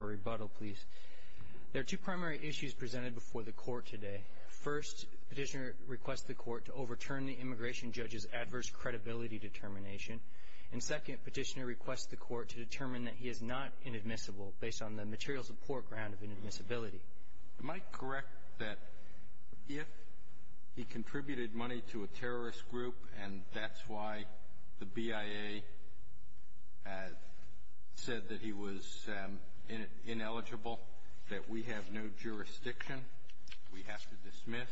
There are two primary issues presented before the court today. First, petitioner requests the court to overturn the immigration judge's adverse credibility determination. And second, petitioner requests the court to determine that he is not inadmissible based on the material support ground of inadmissibility. Am I correct that if he contributed money to a terrorist group and that's why the BIA said that he was ineligible, that we have no jurisdiction, we have to dismiss,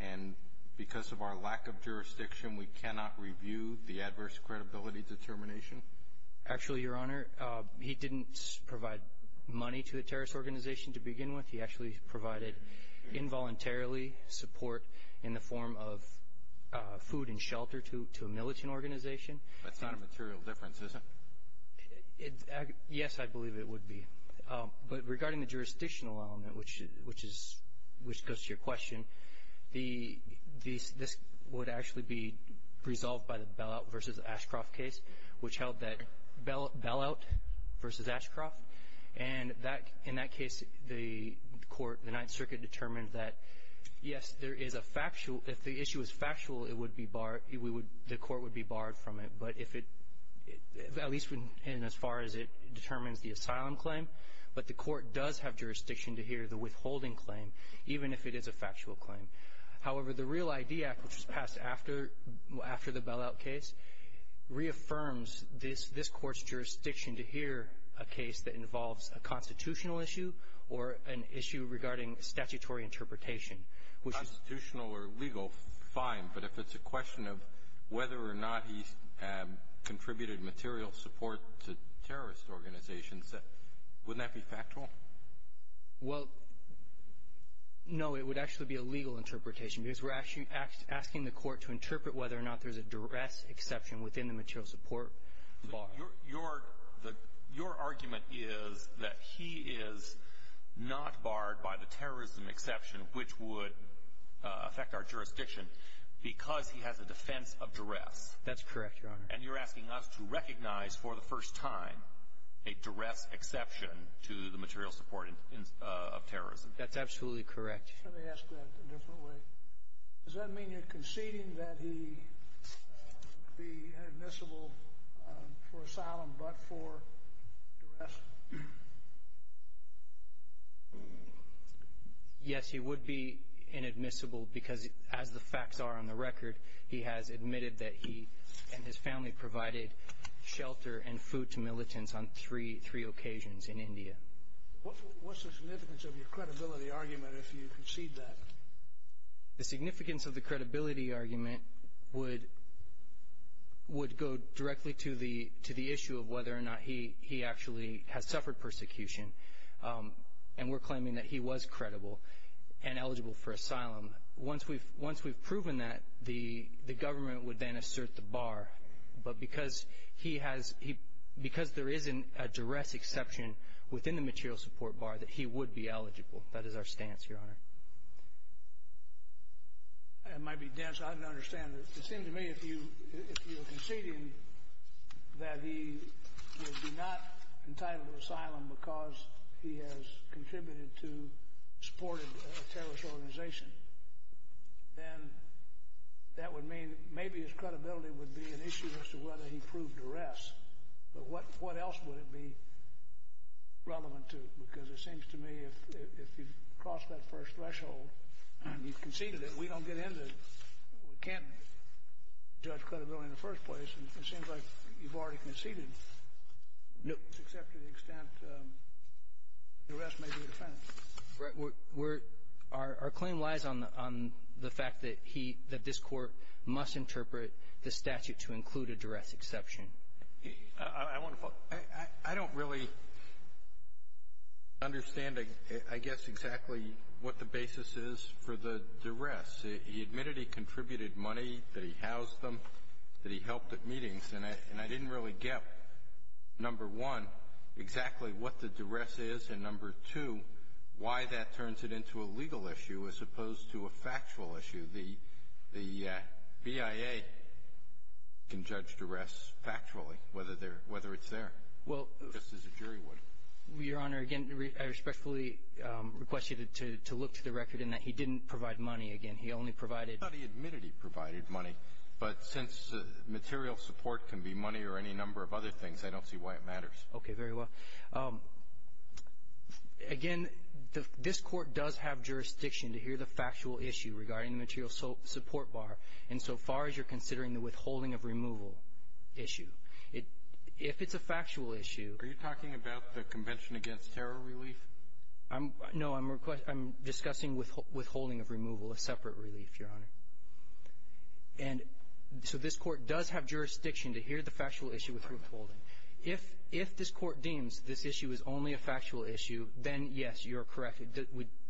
and because of our lack of jurisdiction, we cannot review the adverse credibility determination? Actually, Your Honor, he didn't provide money to a terrorist organization to begin with. He actually provided involuntarily support in the form of food and shelter to a militant organization. That's not a material difference, is it? Yes, I believe it would be. But regarding the jurisdictional element, which goes to your question, this would actually be resolved by the Bellout v. Ashcroft case, which held that Bellout v. Ashcroft, and in that case, the court, the Ninth Circuit, determined that, yes, there is a factual, if the issue is factual, the court would be barred from it, at least in as far as it determines the asylum claim, but the court does have jurisdiction to hear the withholding claim, even if it is a factual claim. However, the REAL ID Act, which was passed after the Bellout case, reaffirms this court's jurisdiction to hear a case that involves a constitutional issue or an issue regarding statutory interpretation. Constitutional or legal, fine, but if it's a question of whether or not he contributed material support to terrorist organizations, wouldn't that be factual? Well, no, it would actually be a legal interpretation because we're actually asking the court to interpret whether or not there's a duress exception within the material support. Your argument is that he is not barred by the terrorism exception, which would affect our jurisdiction, because he has a defense of duress. That's correct, Your Honor. And you're asking us to recognize for the first time a duress exception to the material support of terrorism. That's absolutely correct. Let me ask that a different way. Does that mean you're conceding that he would be inadmissible for asylum but for duress? Yes, he would be inadmissible because, as the facts are on the record, he has admitted that he and his family provided shelter and food to militants on three occasions in India. What's the significance of your credibility argument if you concede that? The significance of the credibility argument would go directly to the issue of whether or not he actually has suffered persecution, and we're claiming that he was credible and eligible for asylum. Once we've proven that, the government would then assert the bar, but because there isn't a duress exception within the material support bar, that he would be eligible. That is our stance, Your Honor. It might be dense. I don't understand. It seems to me if you're conceding that he would be not entitled to asylum because he has contributed to supporting a terrorist organization, then that would mean maybe his credibility would be an issue as to whether he proved duress. But what else would it be relevant to? Because it seems to me if you've crossed that first threshold and you've conceded it, we don't get into we can't judge credibility in the first place. It seems like you've already conceded except to the extent that duress may be a defendant. Right. We're – our claim lies on the fact that he – that this Court must interpret the statute to include a duress exception. I want to follow. I don't really understand, I guess, exactly what the basis is for the duress. He admitted he contributed money, that he housed them, that he helped at meetings, and I didn't really get, number one, exactly what the duress is, and number two, why that turns it into a legal issue as opposed to a factual issue. The BIA can judge duress factually, whether it's there, just as a jury would. Well, Your Honor, again, I respectfully request you to look to the record in that he didn't provide money. Again, he only provided – It can be money or any number of other things. I don't see why it matters. Okay, very well. Again, this Court does have jurisdiction to hear the factual issue regarding the material support bar insofar as you're considering the withholding of removal issue. If it's a factual issue – Are you talking about the Convention Against Terror relief? No, I'm discussing withholding of removal, a separate relief, Your Honor. And so this Court does have jurisdiction to hear the factual issue with withholding. If this Court deems this issue is only a factual issue, then, yes, you're correct.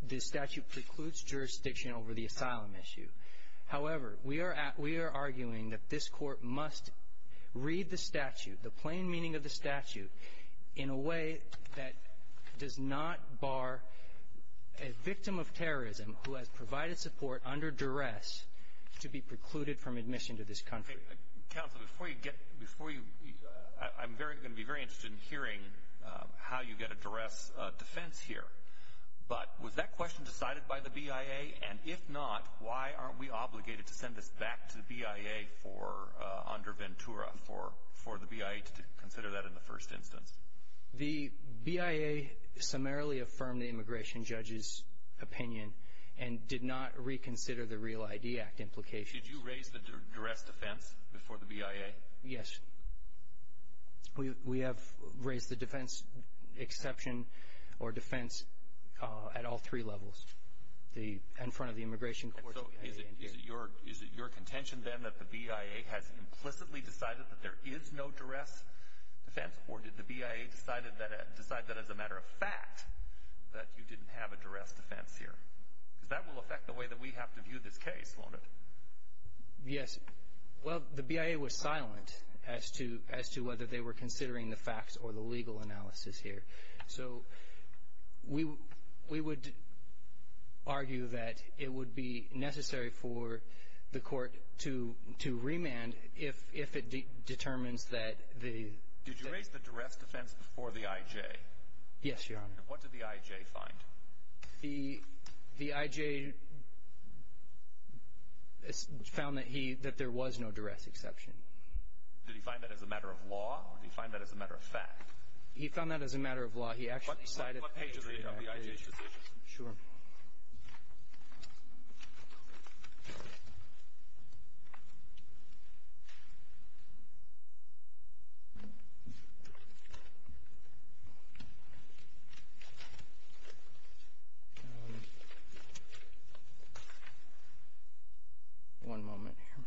The statute precludes jurisdiction over the asylum issue. However, we are arguing that this Court must read the statute, the plain meaning of the statute, in a way that does not bar a victim of terrorism who has provided support under duress to be precluded from admission to this country. Counsel, before you get – before you – I'm going to be very interested in hearing how you get a duress defense here. But was that question decided by the BIA? And if not, why aren't we obligated to send this back to the BIA under Ventura for the BIA to consider that in the first instance? The BIA summarily affirmed the immigration judge's opinion and did not reconsider the Real ID Act implication. Did you raise the duress defense before the BIA? Yes. We have raised the defense exception or defense at all three levels, the – in front of the immigration courts and the BIA. And so is it your – is it your contention, then, that the BIA has implicitly decided that there is no duress defense, or did the BIA decide that as a matter of fact that you didn't have a duress defense here? Because that will affect the way that we have to view this case, won't it? Yes. Well, the BIA was silent as to whether they were considering the facts or the legal analysis here. So we would argue that it would be necessary for the court to remand if it determines that the – Did you raise the duress defense before the IJ? Yes, Your Honor. And what did the IJ find? The IJ found that he – that there was no duress exception. Did he find that as a matter of law or did he find that as a matter of fact? He found that as a matter of law. What pages are you talking about? The IJ's decisions. Sure. One moment here.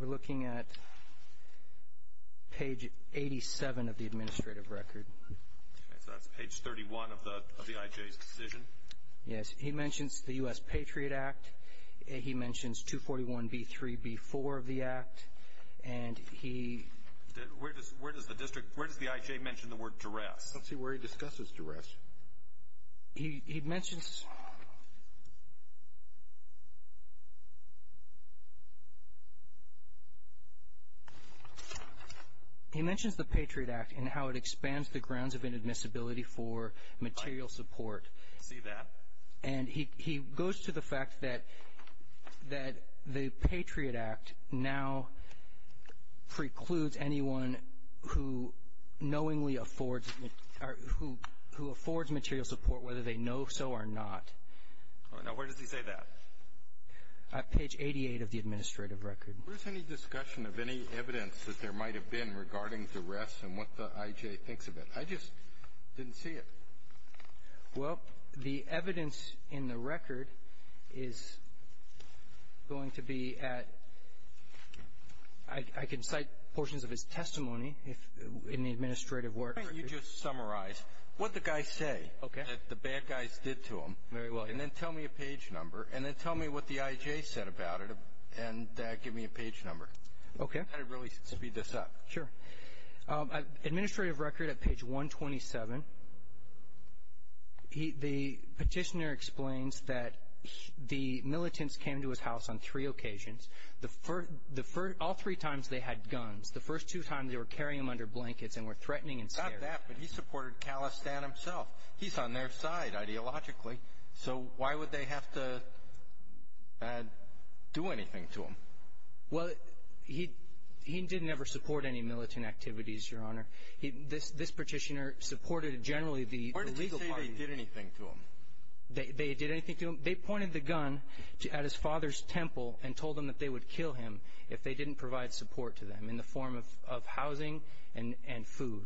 We're looking at page 87 of the administrative record. Okay. So that's page 31 of the IJ's decision? Yes. He mentions the U.S. Patriot Act. He mentions 241B3B4 of the act. And he – Where does the district – where does the IJ mention the word duress? Let's see where he discusses duress. He mentions the Patriot Act and how it expands the grounds of inadmissibility for material support. I see that. And he goes to the fact that the Patriot Act now precludes anyone who knowingly affords – or who affords material support whether they know so or not. Now, where does he say that? Page 88 of the administrative record. Where's any discussion of any evidence that there might have been regarding duress and what the IJ thinks of it? I just didn't see it. Well, the evidence in the record is going to be at – I can cite portions of his testimony in the administrative work. Why don't you just summarize what the guys say that the bad guys did to him. Very well. And then tell me a page number. And then tell me what the IJ said about it. And give me a page number. Okay. And really speed this up. Sure. Administrative record at page 127. The petitioner explains that the militants came to his house on three occasions. All three times they had guns. The first two times they were carrying them under blankets and were threatening and scaring. Not that, but he supported Khalistan himself. He's on their side ideologically. So why would they have to do anything to him? Well, he didn't ever support any militant activities, Your Honor. This petitioner supported generally the legal party. Why did they say they did anything to him? They did anything to him. They pointed the gun at his father's temple and told him that they would kill him if they didn't provide support to them in the form of housing and food.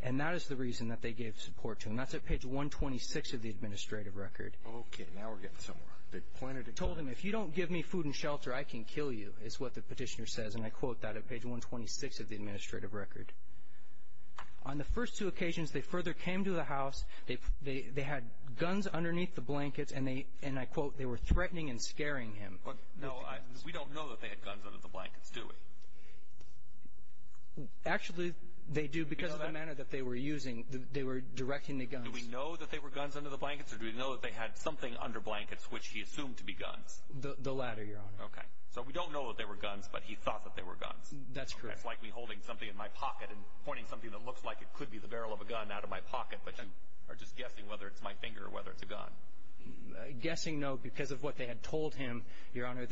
And that is the reason that they gave support to him. That's at page 126 of the administrative record. Okay. Now we're getting somewhere. They told him, if you don't give me food and shelter, I can kill you, is what the petitioner says. And I quote that at page 126 of the administrative record. On the first two occasions, they further came to the house. They had guns underneath the blankets, and I quote, they were threatening and scaring him. No, we don't know that they had guns under the blankets, do we? Actually, they do because of the manner that they were using. They were directing the guns. Do we know that they were guns under the blankets or do we know that they had something under blankets which he assumed to be guns? The latter, Your Honor. Okay. So we don't know that they were guns, but he thought that they were guns. That's correct. That's like me holding something in my pocket and pointing something that looks like it could be the barrel of a gun out of my pocket, but you are just guessing whether it's my finger or whether it's a gun. Guessing no because of what they had told him, Your Honor.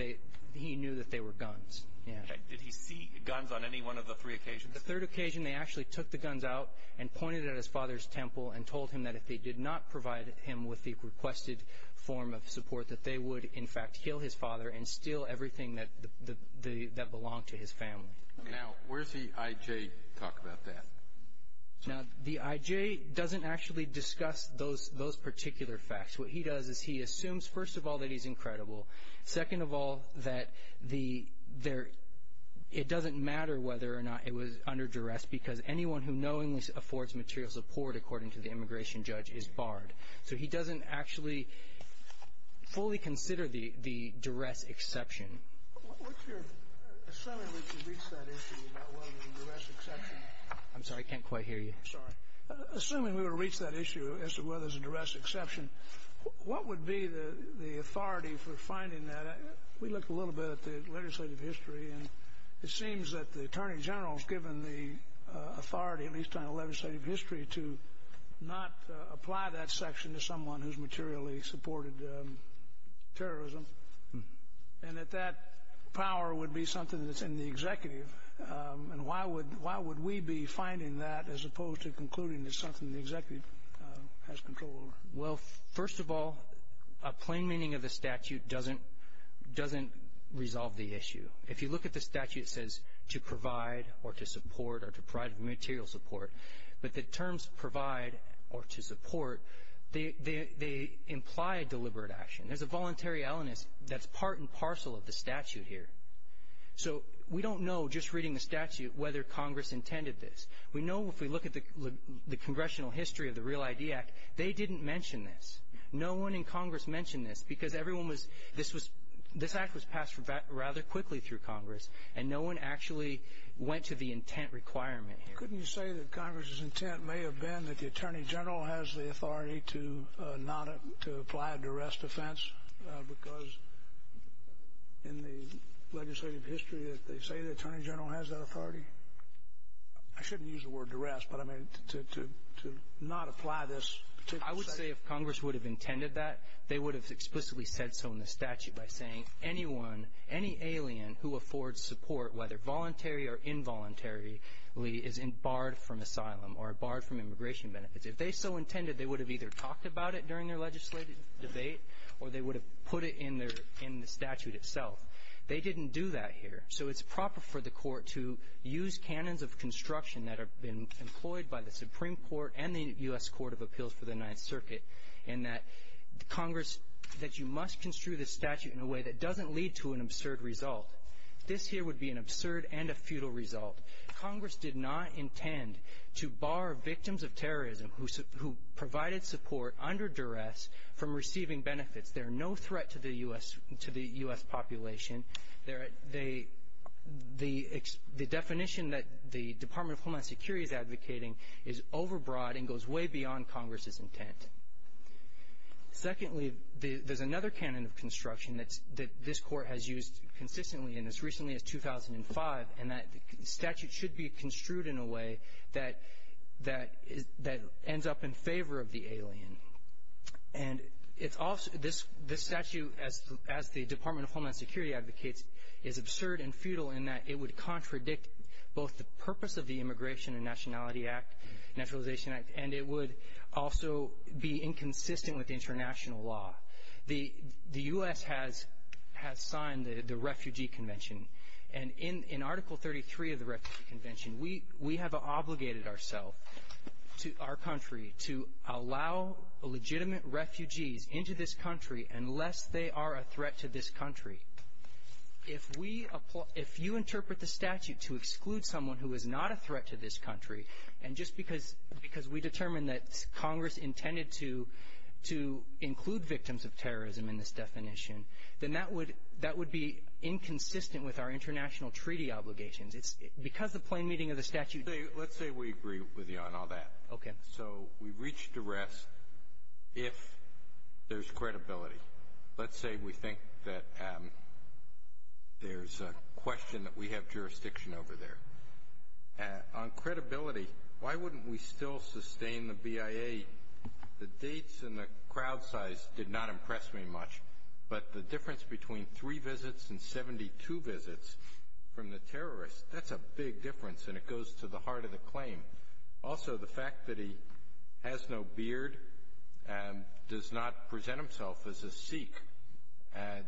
He knew that they were guns. Okay. Did he see guns on any one of the three occasions? The third occasion, they actually took the guns out and pointed it at his father's temple and told him that if they did not provide him with the requested form of support that they would, in fact, heal his father and steal everything that belonged to his family. Now, where's the I.J. talk about that? Now, the I.J. doesn't actually discuss those particular facts. What he does is he assumes, first of all, that he's incredible, second of all, that it doesn't matter whether or not it was under duress because anyone who knowingly affords material support, according to the immigration judge, is barred. So he doesn't actually fully consider the duress exception. Assuming we can reach that issue about whether there's a duress exception. I'm sorry, I can't quite hear you. Assuming we were to reach that issue as to whether there's a duress exception, what would be the authority for finding that? We looked a little bit at the legislative history and it seems that the Attorney General is given the authority, at least on the legislative history, to not apply that section to someone who's materially supported terrorism and that that power would be something that's in the executive. And why would we be finding that as opposed to concluding it's something the executive has control over? Well, first of all, a plain meaning of the statute doesn't resolve the issue. If you look at the statute, it says to provide or to support or to provide material support. But the terms provide or to support, they imply deliberate action. There's a voluntary illness that's part and parcel of the statute here. So we don't know just reading the statute whether Congress intended this. We know if we look at the congressional history of the Real ID Act, they didn't mention this. No one in Congress mentioned this because this act was passed rather quickly through Congress and no one actually went to the intent requirement here. Couldn't you say that Congress's intent may have been that the Attorney General has the authority to apply a duress defense because in the legislative history they say the Attorney General has that authority? I shouldn't use the word duress, but I mean to not apply this particular section. I would say if Congress would have intended that, they would have explicitly said so in the statute by saying anyone, any alien who affords support, whether voluntary or involuntarily, is barred from asylum or barred from immigration benefits. If they so intended, they would have either talked about it during their legislative debate or they would have put it in the statute itself. They didn't do that here. So it's proper for the Court to use canons of construction that have been employed by the Supreme Court and the U.S. Court of Appeals for the Ninth Circuit in that Congress, that you must construe the statute in a way that doesn't lead to an absurd result. This here would be an absurd and a futile result. Congress did not intend to bar victims of terrorism who provided support under duress from receiving benefits. They're no threat to the U.S. population. The definition that the Department of Homeland Security is advocating is overbroad and goes way beyond Congress's intent. Secondly, there's another canon of construction that this Court has used consistently in as recently as 2005, and that statute should be construed in a way that ends up in favor of the alien. And this statute, as the Department of Homeland Security advocates, is absurd and futile in that it would contradict both the purpose of the Immigration and Nationalization Act, and it would also be inconsistent with international law. The U.S. has signed the Refugee Convention, and in Article 33 of the Refugee Convention, we have obligated ourselves to our country to allow legitimate refugees into this country unless they are a threat to this country. If you interpret the statute to exclude someone who is not a threat to this country, and just because we determined that Congress intended to include victims of terrorism in this definition, then that would be inconsistent with our international treaty obligations. It's because the plain meaning of the statute — Let's say we agree with you on all that. Okay. So we've reached a rest if there's credibility. Let's say we think that there's a question that we have jurisdiction over there. On credibility, why wouldn't we still sustain the BIA? The dates and the crowd size did not impress me much, but the difference between three visits and 72 visits from the terrorists, that's a big difference, and it goes to the heart of the claim. Also, the fact that he has no beard and does not present himself as a Sikh and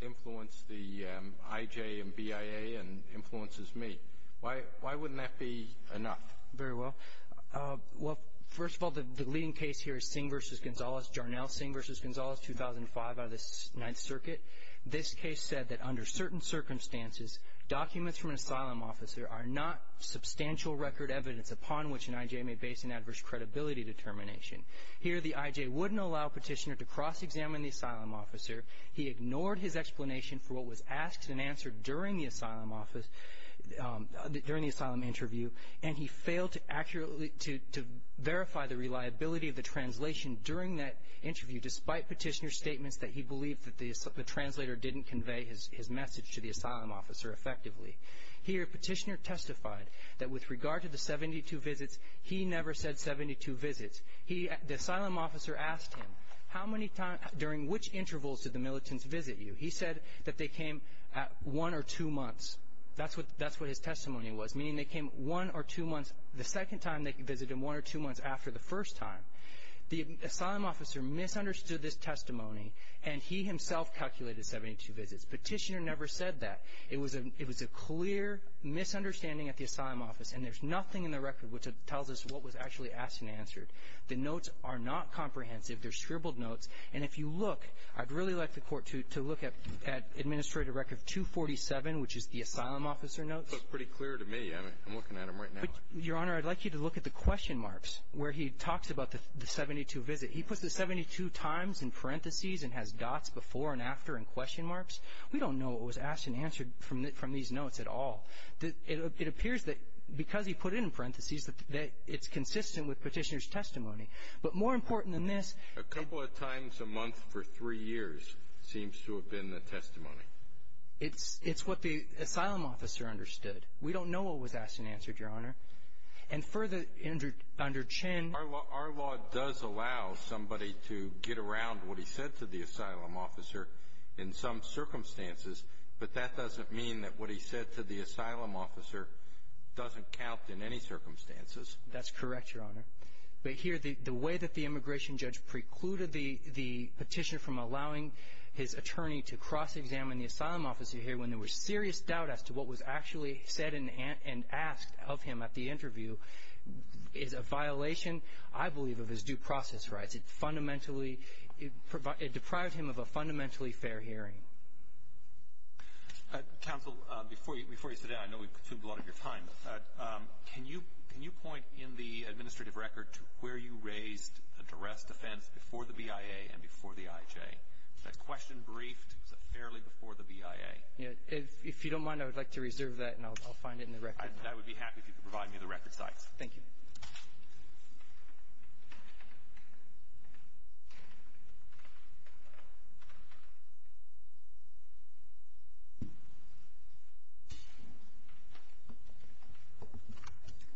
influenced the IJ and BIA and influences me. Why wouldn't that be enough? Very well. Well, first of all, the leading case here is Singh v. Gonzalez, Jarnell Singh v. Gonzalez, 2005 out of the Ninth Circuit. This case said that under certain circumstances, documents from an asylum officer are not substantial record evidence upon which an IJ may base an adverse credibility determination. Here, the IJ wouldn't allow a petitioner to cross-examine the asylum officer. He ignored his explanation for what was asked and answered during the asylum interview, and he failed to verify the reliability of the translation during that interview, despite petitioner's statements that he believed that the translator didn't convey his message to the asylum officer effectively. Here, petitioner testified that with regard to the 72 visits, he never said 72 visits. The asylum officer asked him, during which intervals did the militants visit you? He said that they came at one or two months. That's what his testimony was, meaning they came one or two months the second time they visited him, one or two months after the first time. The asylum officer misunderstood this testimony, and he himself calculated 72 visits. Petitioner never said that. It was a clear misunderstanding at the asylum office, and there's nothing in the record which tells us what was actually asked and answered. The notes are not comprehensive. They're scribbled notes. And if you look, I'd really like the Court to look at Administrator Record 247, which is the asylum officer notes. It's pretty clear to me. I'm looking at them right now. Your Honor, I'd like you to look at the question marks where he talks about the 72 visits. He puts the 72 times in parentheses and has dots before and after in question marks. We don't know what was asked and answered from these notes at all. It appears that because he put it in parentheses that it's consistent with petitioner's testimony. But more important than this. A couple of times a month for three years seems to have been the testimony. It's what the asylum officer understood. We don't know what was asked and answered, Your Honor. And further, under Chinn. Our law does allow somebody to get around what he said to the asylum officer in some circumstances, but that doesn't mean that what he said to the asylum officer doesn't count in any circumstances. That's correct, Your Honor. But here, the way that the immigration judge precluded the petitioner from allowing his attorney to cross-examine the asylum officer here when there was serious doubt as to what was actually said and asked of him at the interview is a violation, I believe, of his due process rights. It fundamentally deprived him of a fundamentally fair hearing. Counsel, before you sit down, I know we've consumed a lot of your time. Can you point in the administrative record to where you raised an arrest offense before the BIA and before the IJ? That question briefed fairly before the BIA. If you don't mind, I would like to reserve that, and I'll find it in the record. I would be happy if you could provide me the record sites. Thank you.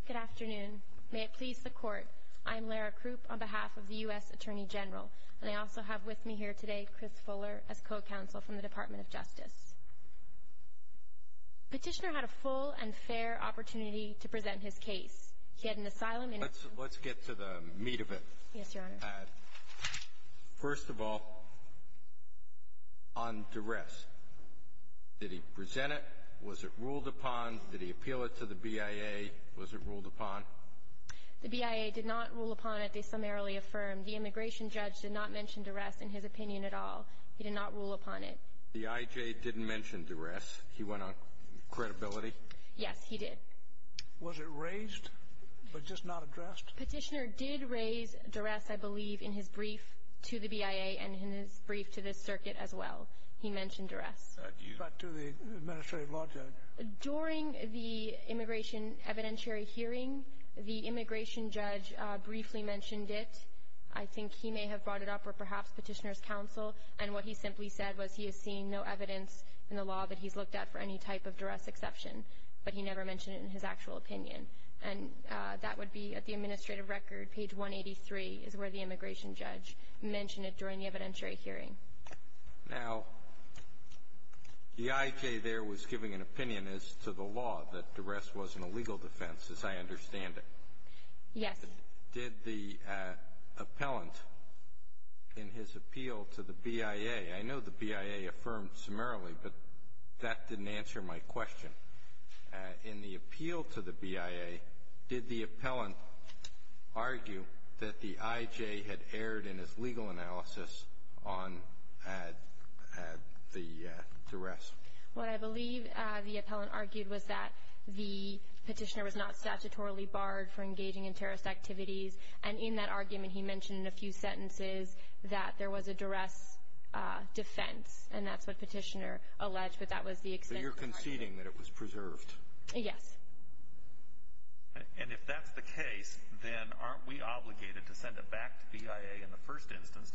Good afternoon. May it please the Court, I'm Lara Krupp on behalf of the U.S. Attorney General, and I also have with me here today Chris Fuller as co-counsel from the Department of Justice. Petitioner had a full and fair opportunity to present his case. He had an asylum in his home. Let's get to the meat of it. Yes, Your Honor. First of all, on duress, did he present it? Was it ruled upon? Did he appeal it to the BIA? Was it ruled upon? The BIA did not rule upon it. They summarily affirmed. The immigration judge did not mention duress in his opinion at all. He did not rule upon it. The IJ didn't mention duress. He went on credibility? Yes, he did. Was it raised but just not addressed? Petitioner did raise duress, I believe, in his brief to the BIA and in his brief to this circuit as well. He mentioned duress. But to the administrative law judge? During the immigration evidentiary hearing, the immigration judge briefly mentioned it. I think he may have brought it up, or perhaps Petitioner's counsel, and what he simply said was he has seen no evidence in the law that he's looked at for any type of duress exception. But he never mentioned it in his actual opinion. And that would be at the administrative record, page 183, is where the immigration judge mentioned it during the evidentiary hearing. Now, the IJ there was giving an opinion as to the law, that duress wasn't a legal defense, as I understand it. Yes. Did the appellant, in his appeal to the BIA, I know the BIA affirmed summarily, but that didn't answer my question. In the appeal to the BIA, did the appellant argue that the IJ had erred in his legal analysis on the duress? What I believe the appellant argued was that the petitioner was not statutorily barred for engaging in terrorist activities. And in that argument, he mentioned in a few sentences that there was a duress defense, and that's what Petitioner alleged, but that was the extent of the argument. So you're conceding that it was preserved? Yes. And if that's the case, then aren't we obligated to send it back to BIA in the first instance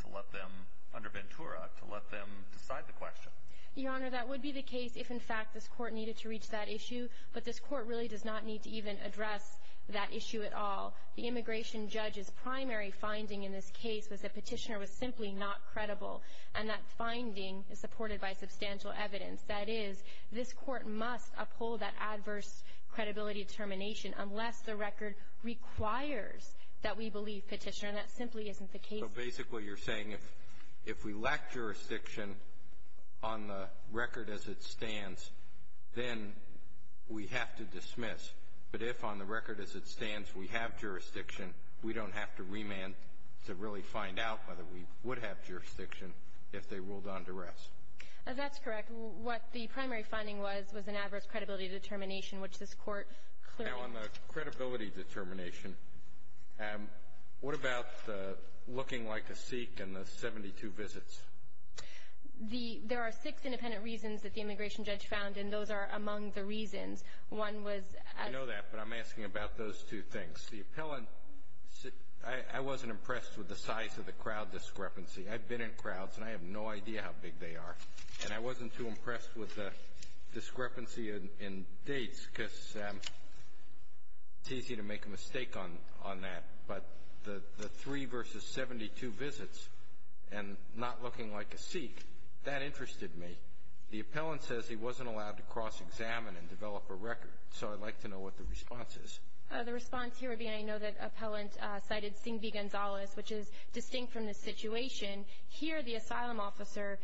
under Ventura to let them decide the question? Your Honor, that would be the case if, in fact, this Court needed to reach that issue, but this Court really does not need to even address that issue at all. The immigration judge's primary finding in this case was that Petitioner was simply not credible, and that finding is supported by substantial evidence. That is, this Court must uphold that adverse credibility determination unless the record requires that we believe Petitioner, and that simply isn't the case. So basically, you're saying if we lack jurisdiction on the record as it stands, then we have to dismiss. But if, on the record as it stands, we have jurisdiction, we don't have to remand to really find out whether we would have jurisdiction if they ruled on duress. That's correct. What the primary finding was was an adverse credibility determination, which this Court clearly — Now, on the credibility determination, what about looking like a Sikh in the 72 visits? The — there are six independent reasons that the immigration judge found, and those are among the reasons. One was — I know that, but I'm asking about those two things. The appellant — I wasn't impressed with the size of the crowd discrepancy. I've been in crowds, and I have no idea how big they are. And I wasn't too impressed with the discrepancy in dates, because it's easy to make a mistake on that. But the three versus 72 visits and not looking like a Sikh, that interested me. The appellant says he wasn't allowed to cross-examine and develop a record, so I'd like to know what the response is. The response here would be, and I know that the appellant cited Singh v. Gonzalez, which is distinct from this situation. Here, the asylum officer,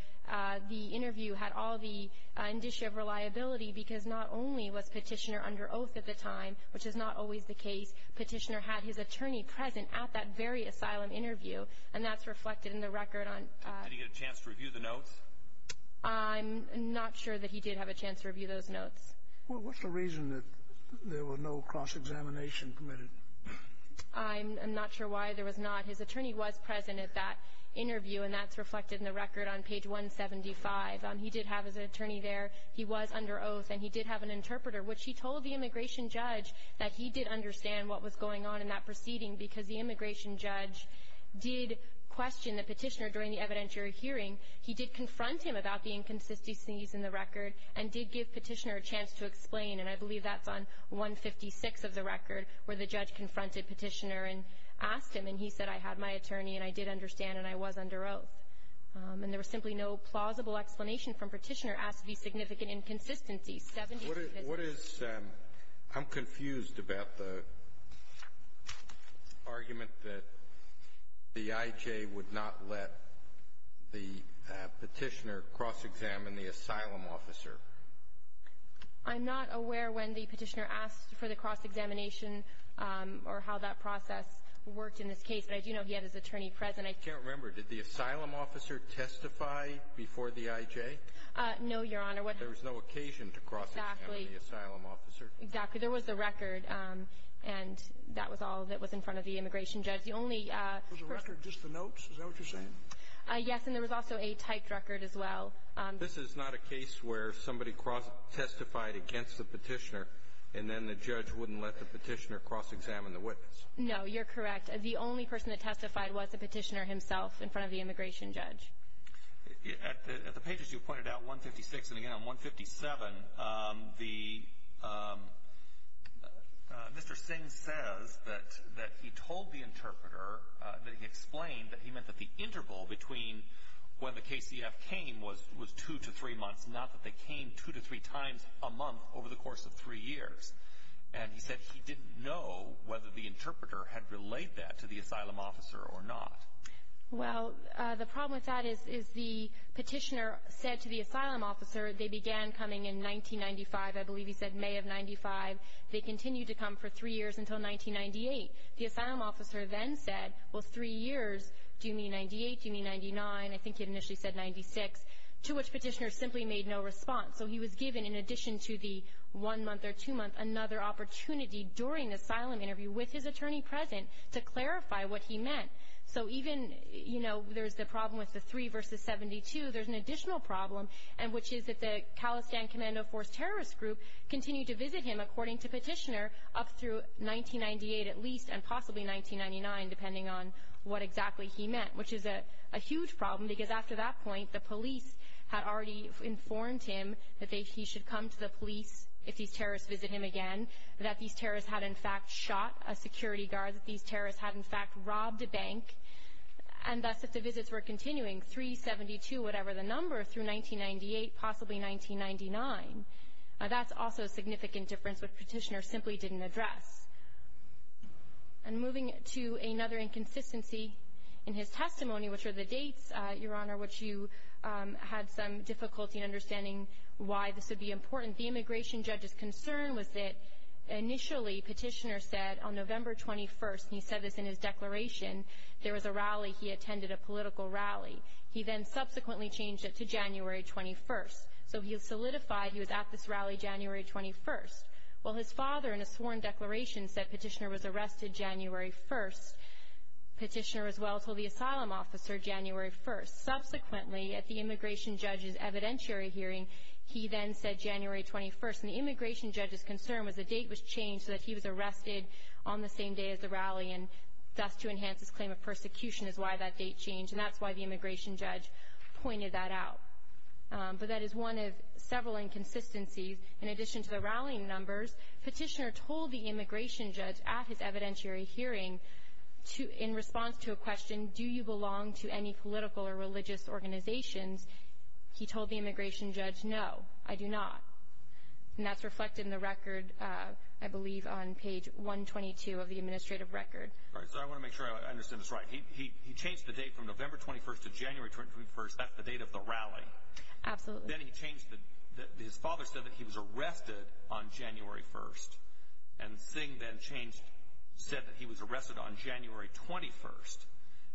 the interview had all the indicia of reliability, because not only was Petitioner under oath at the time, which is not always the case, Petitioner had his attorney present at that very asylum interview, and that's reflected in the record on — Did he get a chance to review the notes? I'm not sure that he did have a chance to review those notes. Well, what's the reason that there was no cross-examination permitted? I'm not sure why there was not. His attorney was present at that interview, and that's reflected in the record on page 175. He did have his attorney there. He was under oath, and he did have an interpreter, which he told the immigration judge that he did understand what was going on in that proceeding, because the immigration judge did question the Petitioner during the evidentiary hearing. He did confront him about the inconsistencies in the record and did give Petitioner a chance to explain, and I believe that's on 156 of the record, where the judge confronted Petitioner and asked him, and he said, I had my attorney and I did understand and I was under oath. And there was simply no plausible explanation from Petitioner as to the significant inconsistencies. What is — I'm confused about the argument that the IJ would not let the Petitioner cross-examine the asylum officer. I'm not aware when the Petitioner asked for the cross-examination or how that process worked in this case, but I do know he had his attorney present. I can't remember. Did the asylum officer testify before the IJ? No, Your Honor. There was no occasion to cross-examine the asylum officer. Exactly. There was the record, and that was all that was in front of the immigration judge. The only — Was the record just the notes? Is that what you're saying? Yes. And there was also a typed record as well. This is not a case where somebody testified against the Petitioner, and then the judge wouldn't let the Petitioner cross-examine the witness. No, you're correct. The only person that testified was the Petitioner himself in front of the immigration judge. At the pages you pointed out, 156 and again on 157, Mr. Singh says that he told the interpreter that he explained that he meant that the interval between when the KCF came was two to three months, not that they came two to three times a month over the course of three years. And he said he didn't know whether the interpreter had relayed that to the asylum officer or not. Well, the problem with that is the Petitioner said to the asylum officer they began coming in 1995. I believe he said May of 1995. They continued to come for three years until 1998. The asylum officer then said, well, three years, do you mean 98? Do you mean 99? I think he initially said 96, to which Petitioner simply made no response. So he was given, in addition to the one month or two months, another opportunity during the asylum interview with his attorney present to clarify what he meant. So even, you know, there's the problem with the three versus 72, there's an additional problem, which is that the KCF terrorist group continued to visit him, according to Petitioner, up through 1998 at least and possibly 1999, depending on what exactly he meant, which is a huge problem because after that point the police had already informed him that he should come to the police if these terrorists visit him again, that these terrorists had in fact shot a security guard, that these terrorists had in fact robbed a bank. And thus, if the visits were continuing, three, 72, whatever the number, through 1998, possibly 1999, that's also a significant difference which Petitioner simply didn't address. And moving to another inconsistency in his testimony, which are the dates, Your Honor, which you had some difficulty understanding why this would be important. The immigration judge's concern was that initially Petitioner said on November 21st, and he said this in his declaration, there was a rally, he attended a political rally. He then subsequently changed it to January 21st. So he solidified he was at this rally January 21st. Well, his father in a sworn declaration said Petitioner was arrested January 1st. Petitioner as well told the asylum officer January 1st. Subsequently, at the immigration judge's evidentiary hearing, he then said January 21st. And the immigration judge's concern was the date was changed so that he was arrested on the same day as the rally, and thus to enhance his claim of persecution is why that date changed. And that's why the immigration judge pointed that out. But that is one of several inconsistencies. In addition to the rallying numbers, Petitioner told the immigration judge at his evidentiary hearing, in response to a question, do you belong to any political or religious organizations, he told the immigration judge, no, I do not. And that's reflected in the record, I believe, on page 122 of the administrative record. All right, so I want to make sure I understand this right. He changed the date from November 21st to January 21st. That's the date of the rally. Absolutely. Then he changed it. His father said that he was arrested on January 1st. And Singh then said that he was arrested on January 21st.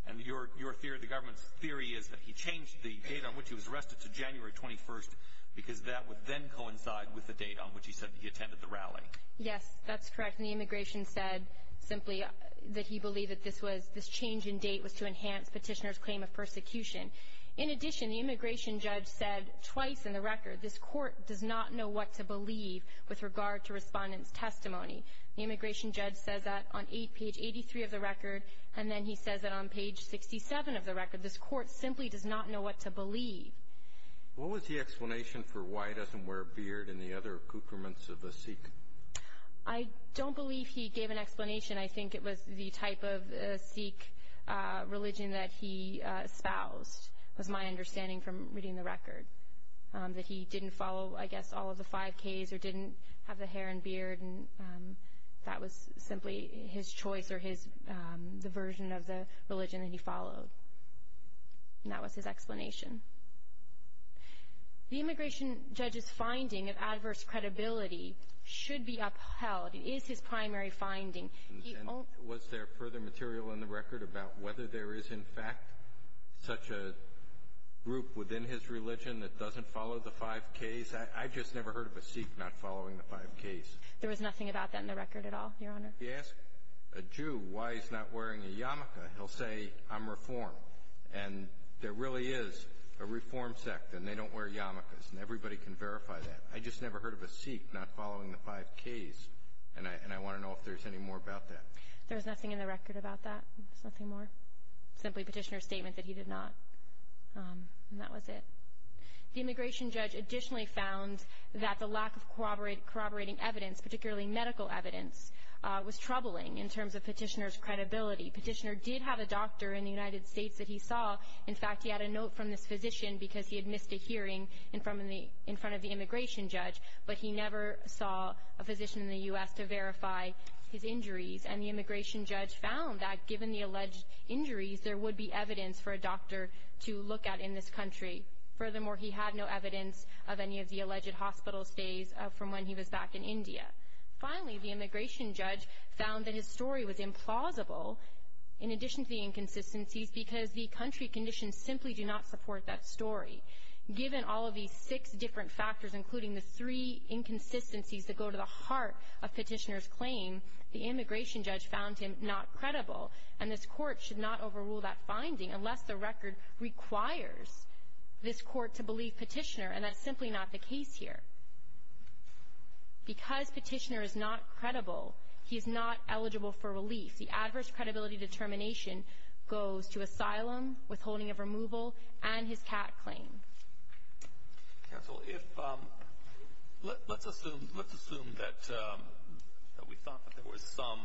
And your theory, the government's theory, is that he changed the date on which he was arrested to January 21st because that would then coincide with the date on which he said he attended the rally. Yes, that's correct. And the immigration said simply that he believed that this change in date was to enhance Petitioner's claim of persecution. In addition, the immigration judge said twice in the record, this Court does not know what to believe with regard to Respondent's testimony. The immigration judge says that on page 83 of the record, and then he says that on page 67 of the record. This Court simply does not know what to believe. What was the explanation for why he doesn't wear a beard and the other accoutrements of a Sikh? I don't believe he gave an explanation. I think it was the type of Sikh religion that he espoused was my understanding from reading the record, that he didn't follow, I guess, all of the 5Ks or didn't have the hair and beard, and that was simply his choice or the version of the religion that he followed. And that was his explanation. The immigration judge's finding of adverse credibility should be upheld. It is his primary finding. Was there further material in the record about whether there is, in fact, such a group within his religion that doesn't follow the 5Ks? I just never heard of a Sikh not following the 5Ks. There was nothing about that in the record at all, Your Honor. If you ask a Jew why he's not wearing a yarmulke, he'll say, I'm Reform. And there really is a Reform sect, and they don't wear yarmulkes, and everybody can verify that. I just never heard of a Sikh not following the 5Ks, and I want to know if there's any more about that. There's nothing in the record about that. There's nothing more. Simply Petitioner's statement that he did not, and that was it. The immigration judge additionally found that the lack of corroborating evidence, particularly medical evidence, was troubling in terms of Petitioner's credibility. Petitioner did have a doctor in the United States that he saw. In fact, he had a note from this physician because he had missed a hearing in front of the immigration judge, but he never saw a physician in the U.S. to verify his injuries. And the immigration judge found that given the alleged injuries, there would be evidence for a doctor to look at in this country. Furthermore, he had no evidence of any of the alleged hospital stays from when he was back in India. Finally, the immigration judge found that his story was implausible, in addition to the inconsistencies, because the country conditions simply do not support that story. Given all of these six different factors, including the three inconsistencies that go to the heart of Petitioner's claim, the immigration judge found him not credible, and this Court should not overrule that finding unless the record requires this Court to believe Petitioner, and that's simply not the case here. Because Petitioner is not credible, he is not eligible for relief. The adverse credibility determination goes to asylum, withholding of removal, and his cat claim. Counsel, let's assume that we thought that there was some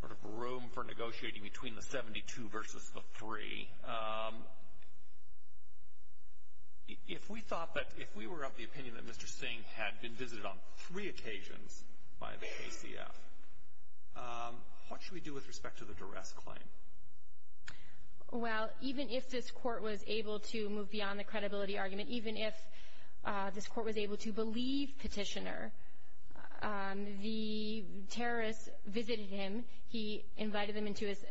sort of room for negotiating between the 72 versus the 3. If we thought that, if we were of the opinion that Mr. Singh had been visited on three occasions by the KCF, what should we do with respect to the duress claim? Well, even if this Court was able to move beyond the credibility argument, even if this Court was able to believe Petitioner, the terrorists visited him. He invited them into his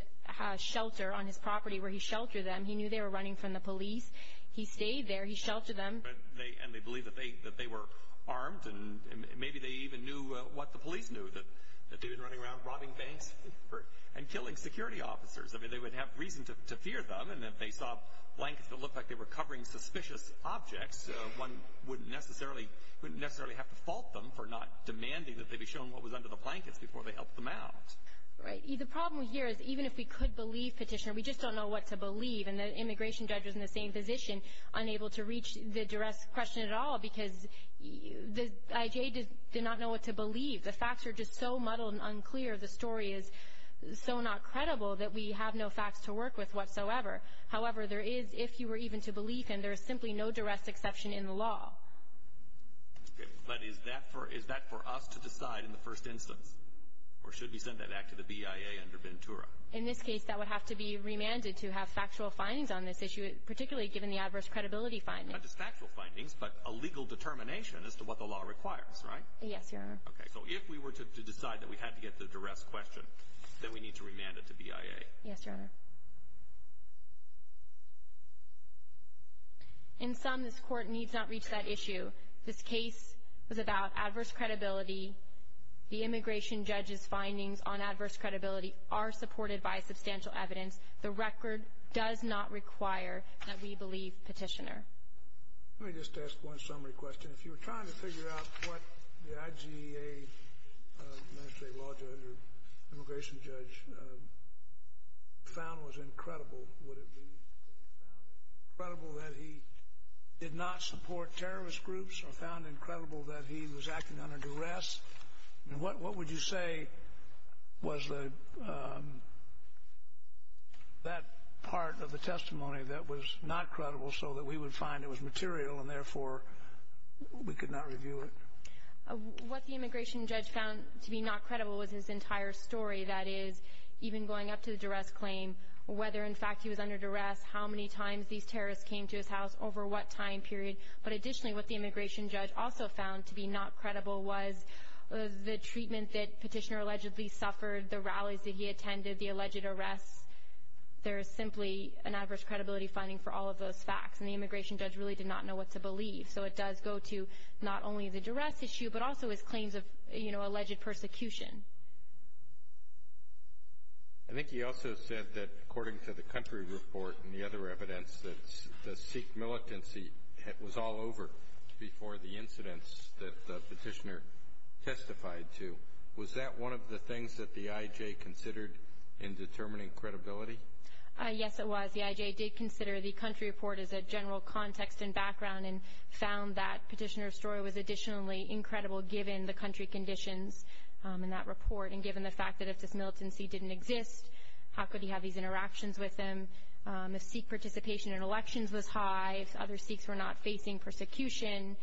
shelter on his property where he sheltered them. He knew they were running from the police. He stayed there. He sheltered them. And they believed that they were armed, and maybe they even knew what the police knew, that they'd been running around robbing banks and killing security officers. I mean, they would have reason to fear them, and if they saw blankets that looked like they were covering suspicious objects, one wouldn't necessarily have to fault them for not demanding that they be shown what was under the blankets before they helped them out. Right. The problem here is even if we could believe Petitioner, we just don't know what to believe, and the immigration judge was in the same position, unable to reach the duress question at all, because the IJA did not know what to believe. The facts are just so muddled and unclear. The story is so not credible that we have no facts to work with whatsoever. However, there is, if you were even to believe him, there is simply no duress exception in the law. Okay. But is that for us to decide in the first instance, or should we send that back to the BIA under Ventura? In this case, that would have to be remanded to have factual findings on this issue, particularly given the adverse credibility findings. Not just factual findings, but a legal determination as to what the law requires, right? Yes, Your Honor. Okay. So if we were to decide that we had to get the duress question, then we need to remand it to BIA. Yes, Your Honor. In sum, this court needs not reach that issue. This case was about adverse credibility. The immigration judge's findings on adverse credibility are supported by substantial evidence. The record does not require that we believe Petitioner. Let me just ask one summary question. If you were trying to figure out what the IGEA, administrative law judge or immigration judge, found was incredible, would it be that he found it incredible that he did not support terrorist groups or found it incredible that he was acting under duress? And what would you say was that part of the testimony that was not credible so that we would find it was material and, therefore, we could not review it? What the immigration judge found to be not credible was his entire story. That is, even going up to the duress claim, whether, in fact, he was under duress, how many times these terrorists came to his house, over what time period. But additionally, what the immigration judge also found to be not credible was the treatment that Petitioner allegedly suffered, the rallies that he attended, the alleged arrests. There is simply an adverse credibility finding for all of those facts, and the immigration judge really did not know what to believe. So it does go to not only the duress issue but also his claims of alleged persecution. I think he also said that, according to the country report and the other evidence, that the Sikh militancy was all over before the incidents that Petitioner testified to. Was that one of the things that the IJ considered in determining credibility? Yes, it was. The IJ did consider the country report as a general context and background and found that Petitioner's story was additionally incredible given the country conditions in that report and given the fact that if this militancy didn't exist, how could he have these interactions with them? If Sikh participation in elections was high, if other Sikhs were not facing persecution,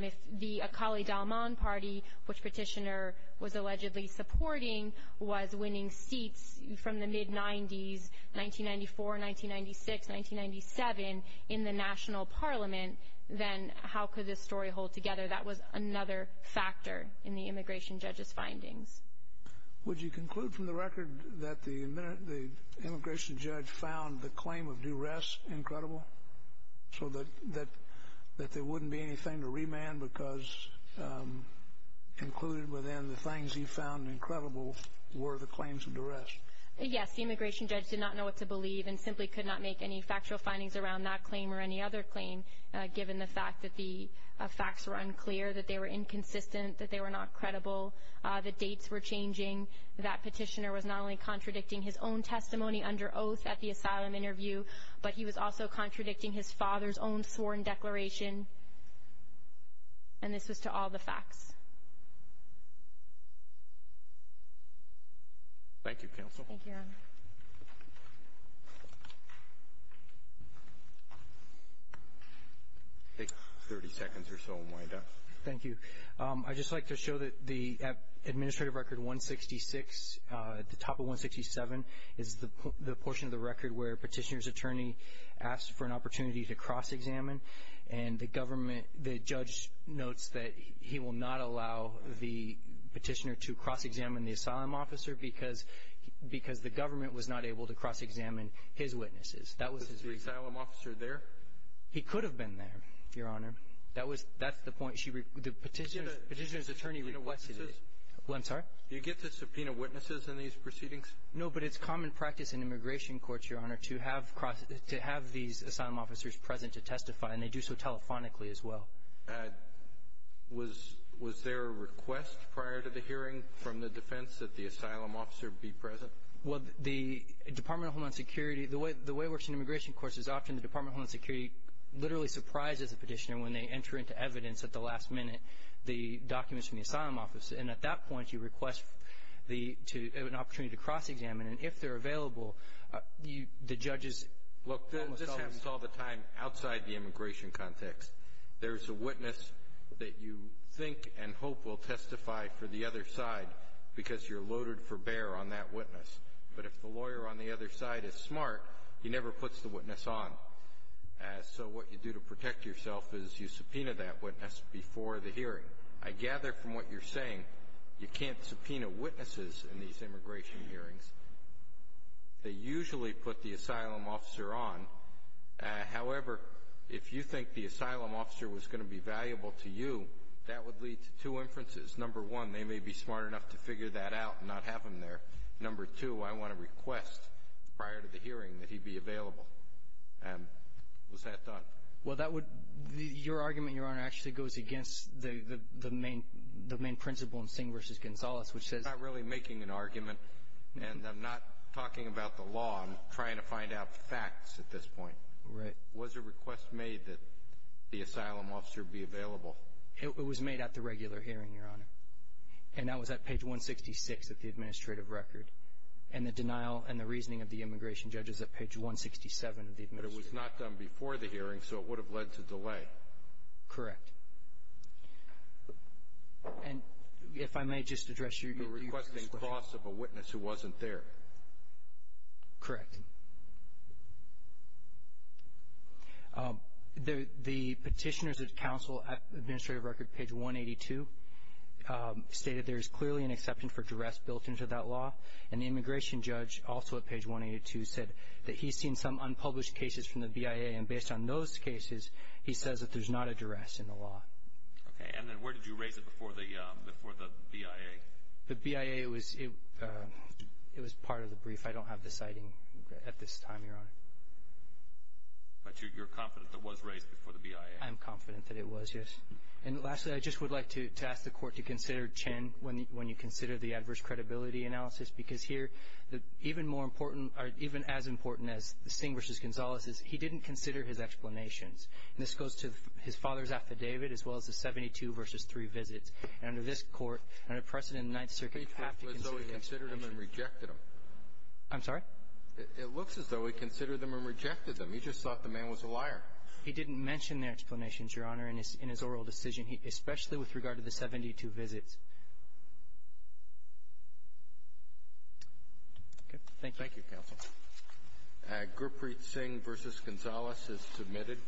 if the Akali Dalman party, which Petitioner was allegedly supporting, was winning seats from the mid-'90s, 1994, 1996, 1997, in the national parliament, then how could this story hold together? That was another factor in the immigration judge's findings. Would you conclude from the record that the immigration judge found the claim of duress incredible so that there wouldn't be anything to remand because included within the things he found incredible were the claims of duress? Yes, the immigration judge did not know what to believe and simply could not make any factual findings around that claim or any other claim given the fact that the facts were unclear, that they were inconsistent, that they were not credible, that dates were changing, that Petitioner was not only contradicting his own testimony under oath at the asylum interview, but he was also contradicting his father's own sworn declaration, and this was to all the facts. Thank you, Counsel. Thank you, Your Honor. Take 30 seconds or so and wind up. Thank you. I'd just like to show that the administrative record 166, the top of 167, is the portion of the record where Petitioner's attorney asked for an opportunity to cross-examine, and the judge notes that he will not allow the petitioner to cross-examine the asylum officer because the government was not able to cross-examine his witnesses. Was the asylum officer there? He could have been there, Your Honor. That's the point. The petitioner's attorney requested it. Do you get to subpoena witnesses in these proceedings? No, but it's common practice in immigration courts, Your Honor, to have these asylum officers present to testify, and they do so telephonically as well. Was there a request prior to the hearing from the defense that the asylum officer be present? Well, the Department of Homeland Security, the way it works in immigration courts is often the Department of Homeland Security literally surprises the petitioner when they enter into evidence at the last minute, the documents from the asylum officer. And at that point, you request an opportunity to cross-examine, and if they're available, the judges almost always ---- Look, this happens all the time outside the immigration context. There's a witness that you think and hope will testify for the other side because you're loaded for bear on that witness. But if the lawyer on the other side is smart, he never puts the witness on. So what you do to protect yourself is you subpoena that witness before the hearing. I gather from what you're saying you can't subpoena witnesses in these immigration hearings. They usually put the asylum officer on. However, if you think the asylum officer was going to be valuable to you, that would lead to two inferences. Number one, they may be smart enough to figure that out and not have him there. Number two, I want to request prior to the hearing that he be available. And was that done? Well, that would ---- your argument, Your Honor, actually goes against the main principle in Singh v. Gonzalez, which says ---- I'm not really making an argument, and I'm not talking about the law. I'm trying to find out facts at this point. Right. Was a request made that the asylum officer be available? It was made at the regular hearing, Your Honor. And that was at page 166 of the administrative record. And the denial and the reasoning of the immigration judge is at page 167 of the administrative record. But it was not done before the hearing, so it would have led to delay. Correct. And if I may just address your ---- You're requesting loss of a witness who wasn't there. Correct. Thank you. The petitioner's counsel administrative record, page 182, stated there is clearly an exception for duress built into that law. And the immigration judge, also at page 182, said that he's seen some unpublished cases from the BIA. And based on those cases, he says that there's not a duress in the law. Okay. And then where did you raise it before the BIA? The BIA, it was part of the brief. I don't have the citing at this time, Your Honor. But you're confident it was raised before the BIA? I'm confident that it was, yes. And lastly, I just would like to ask the Court to consider Chen when you consider the adverse credibility analysis, because here, even more important or even as important as Singh v. Gonzales is, he didn't consider his explanations. And this goes to his father's affidavit as well as the 72 v. 3 visits. And under this Court, under precedent of the Ninth Circuit, you have to consider these explanations. It looks as though he considered them and rejected them. I'm sorry? It looks as though he considered them and rejected them. He just thought the man was a liar. He didn't mention their explanations, Your Honor, in his oral decision, especially with regard to the 72 visits. Okay. Thank you. Thank you, Counsel. Gurpreet Singh v. Gonzales is submitted.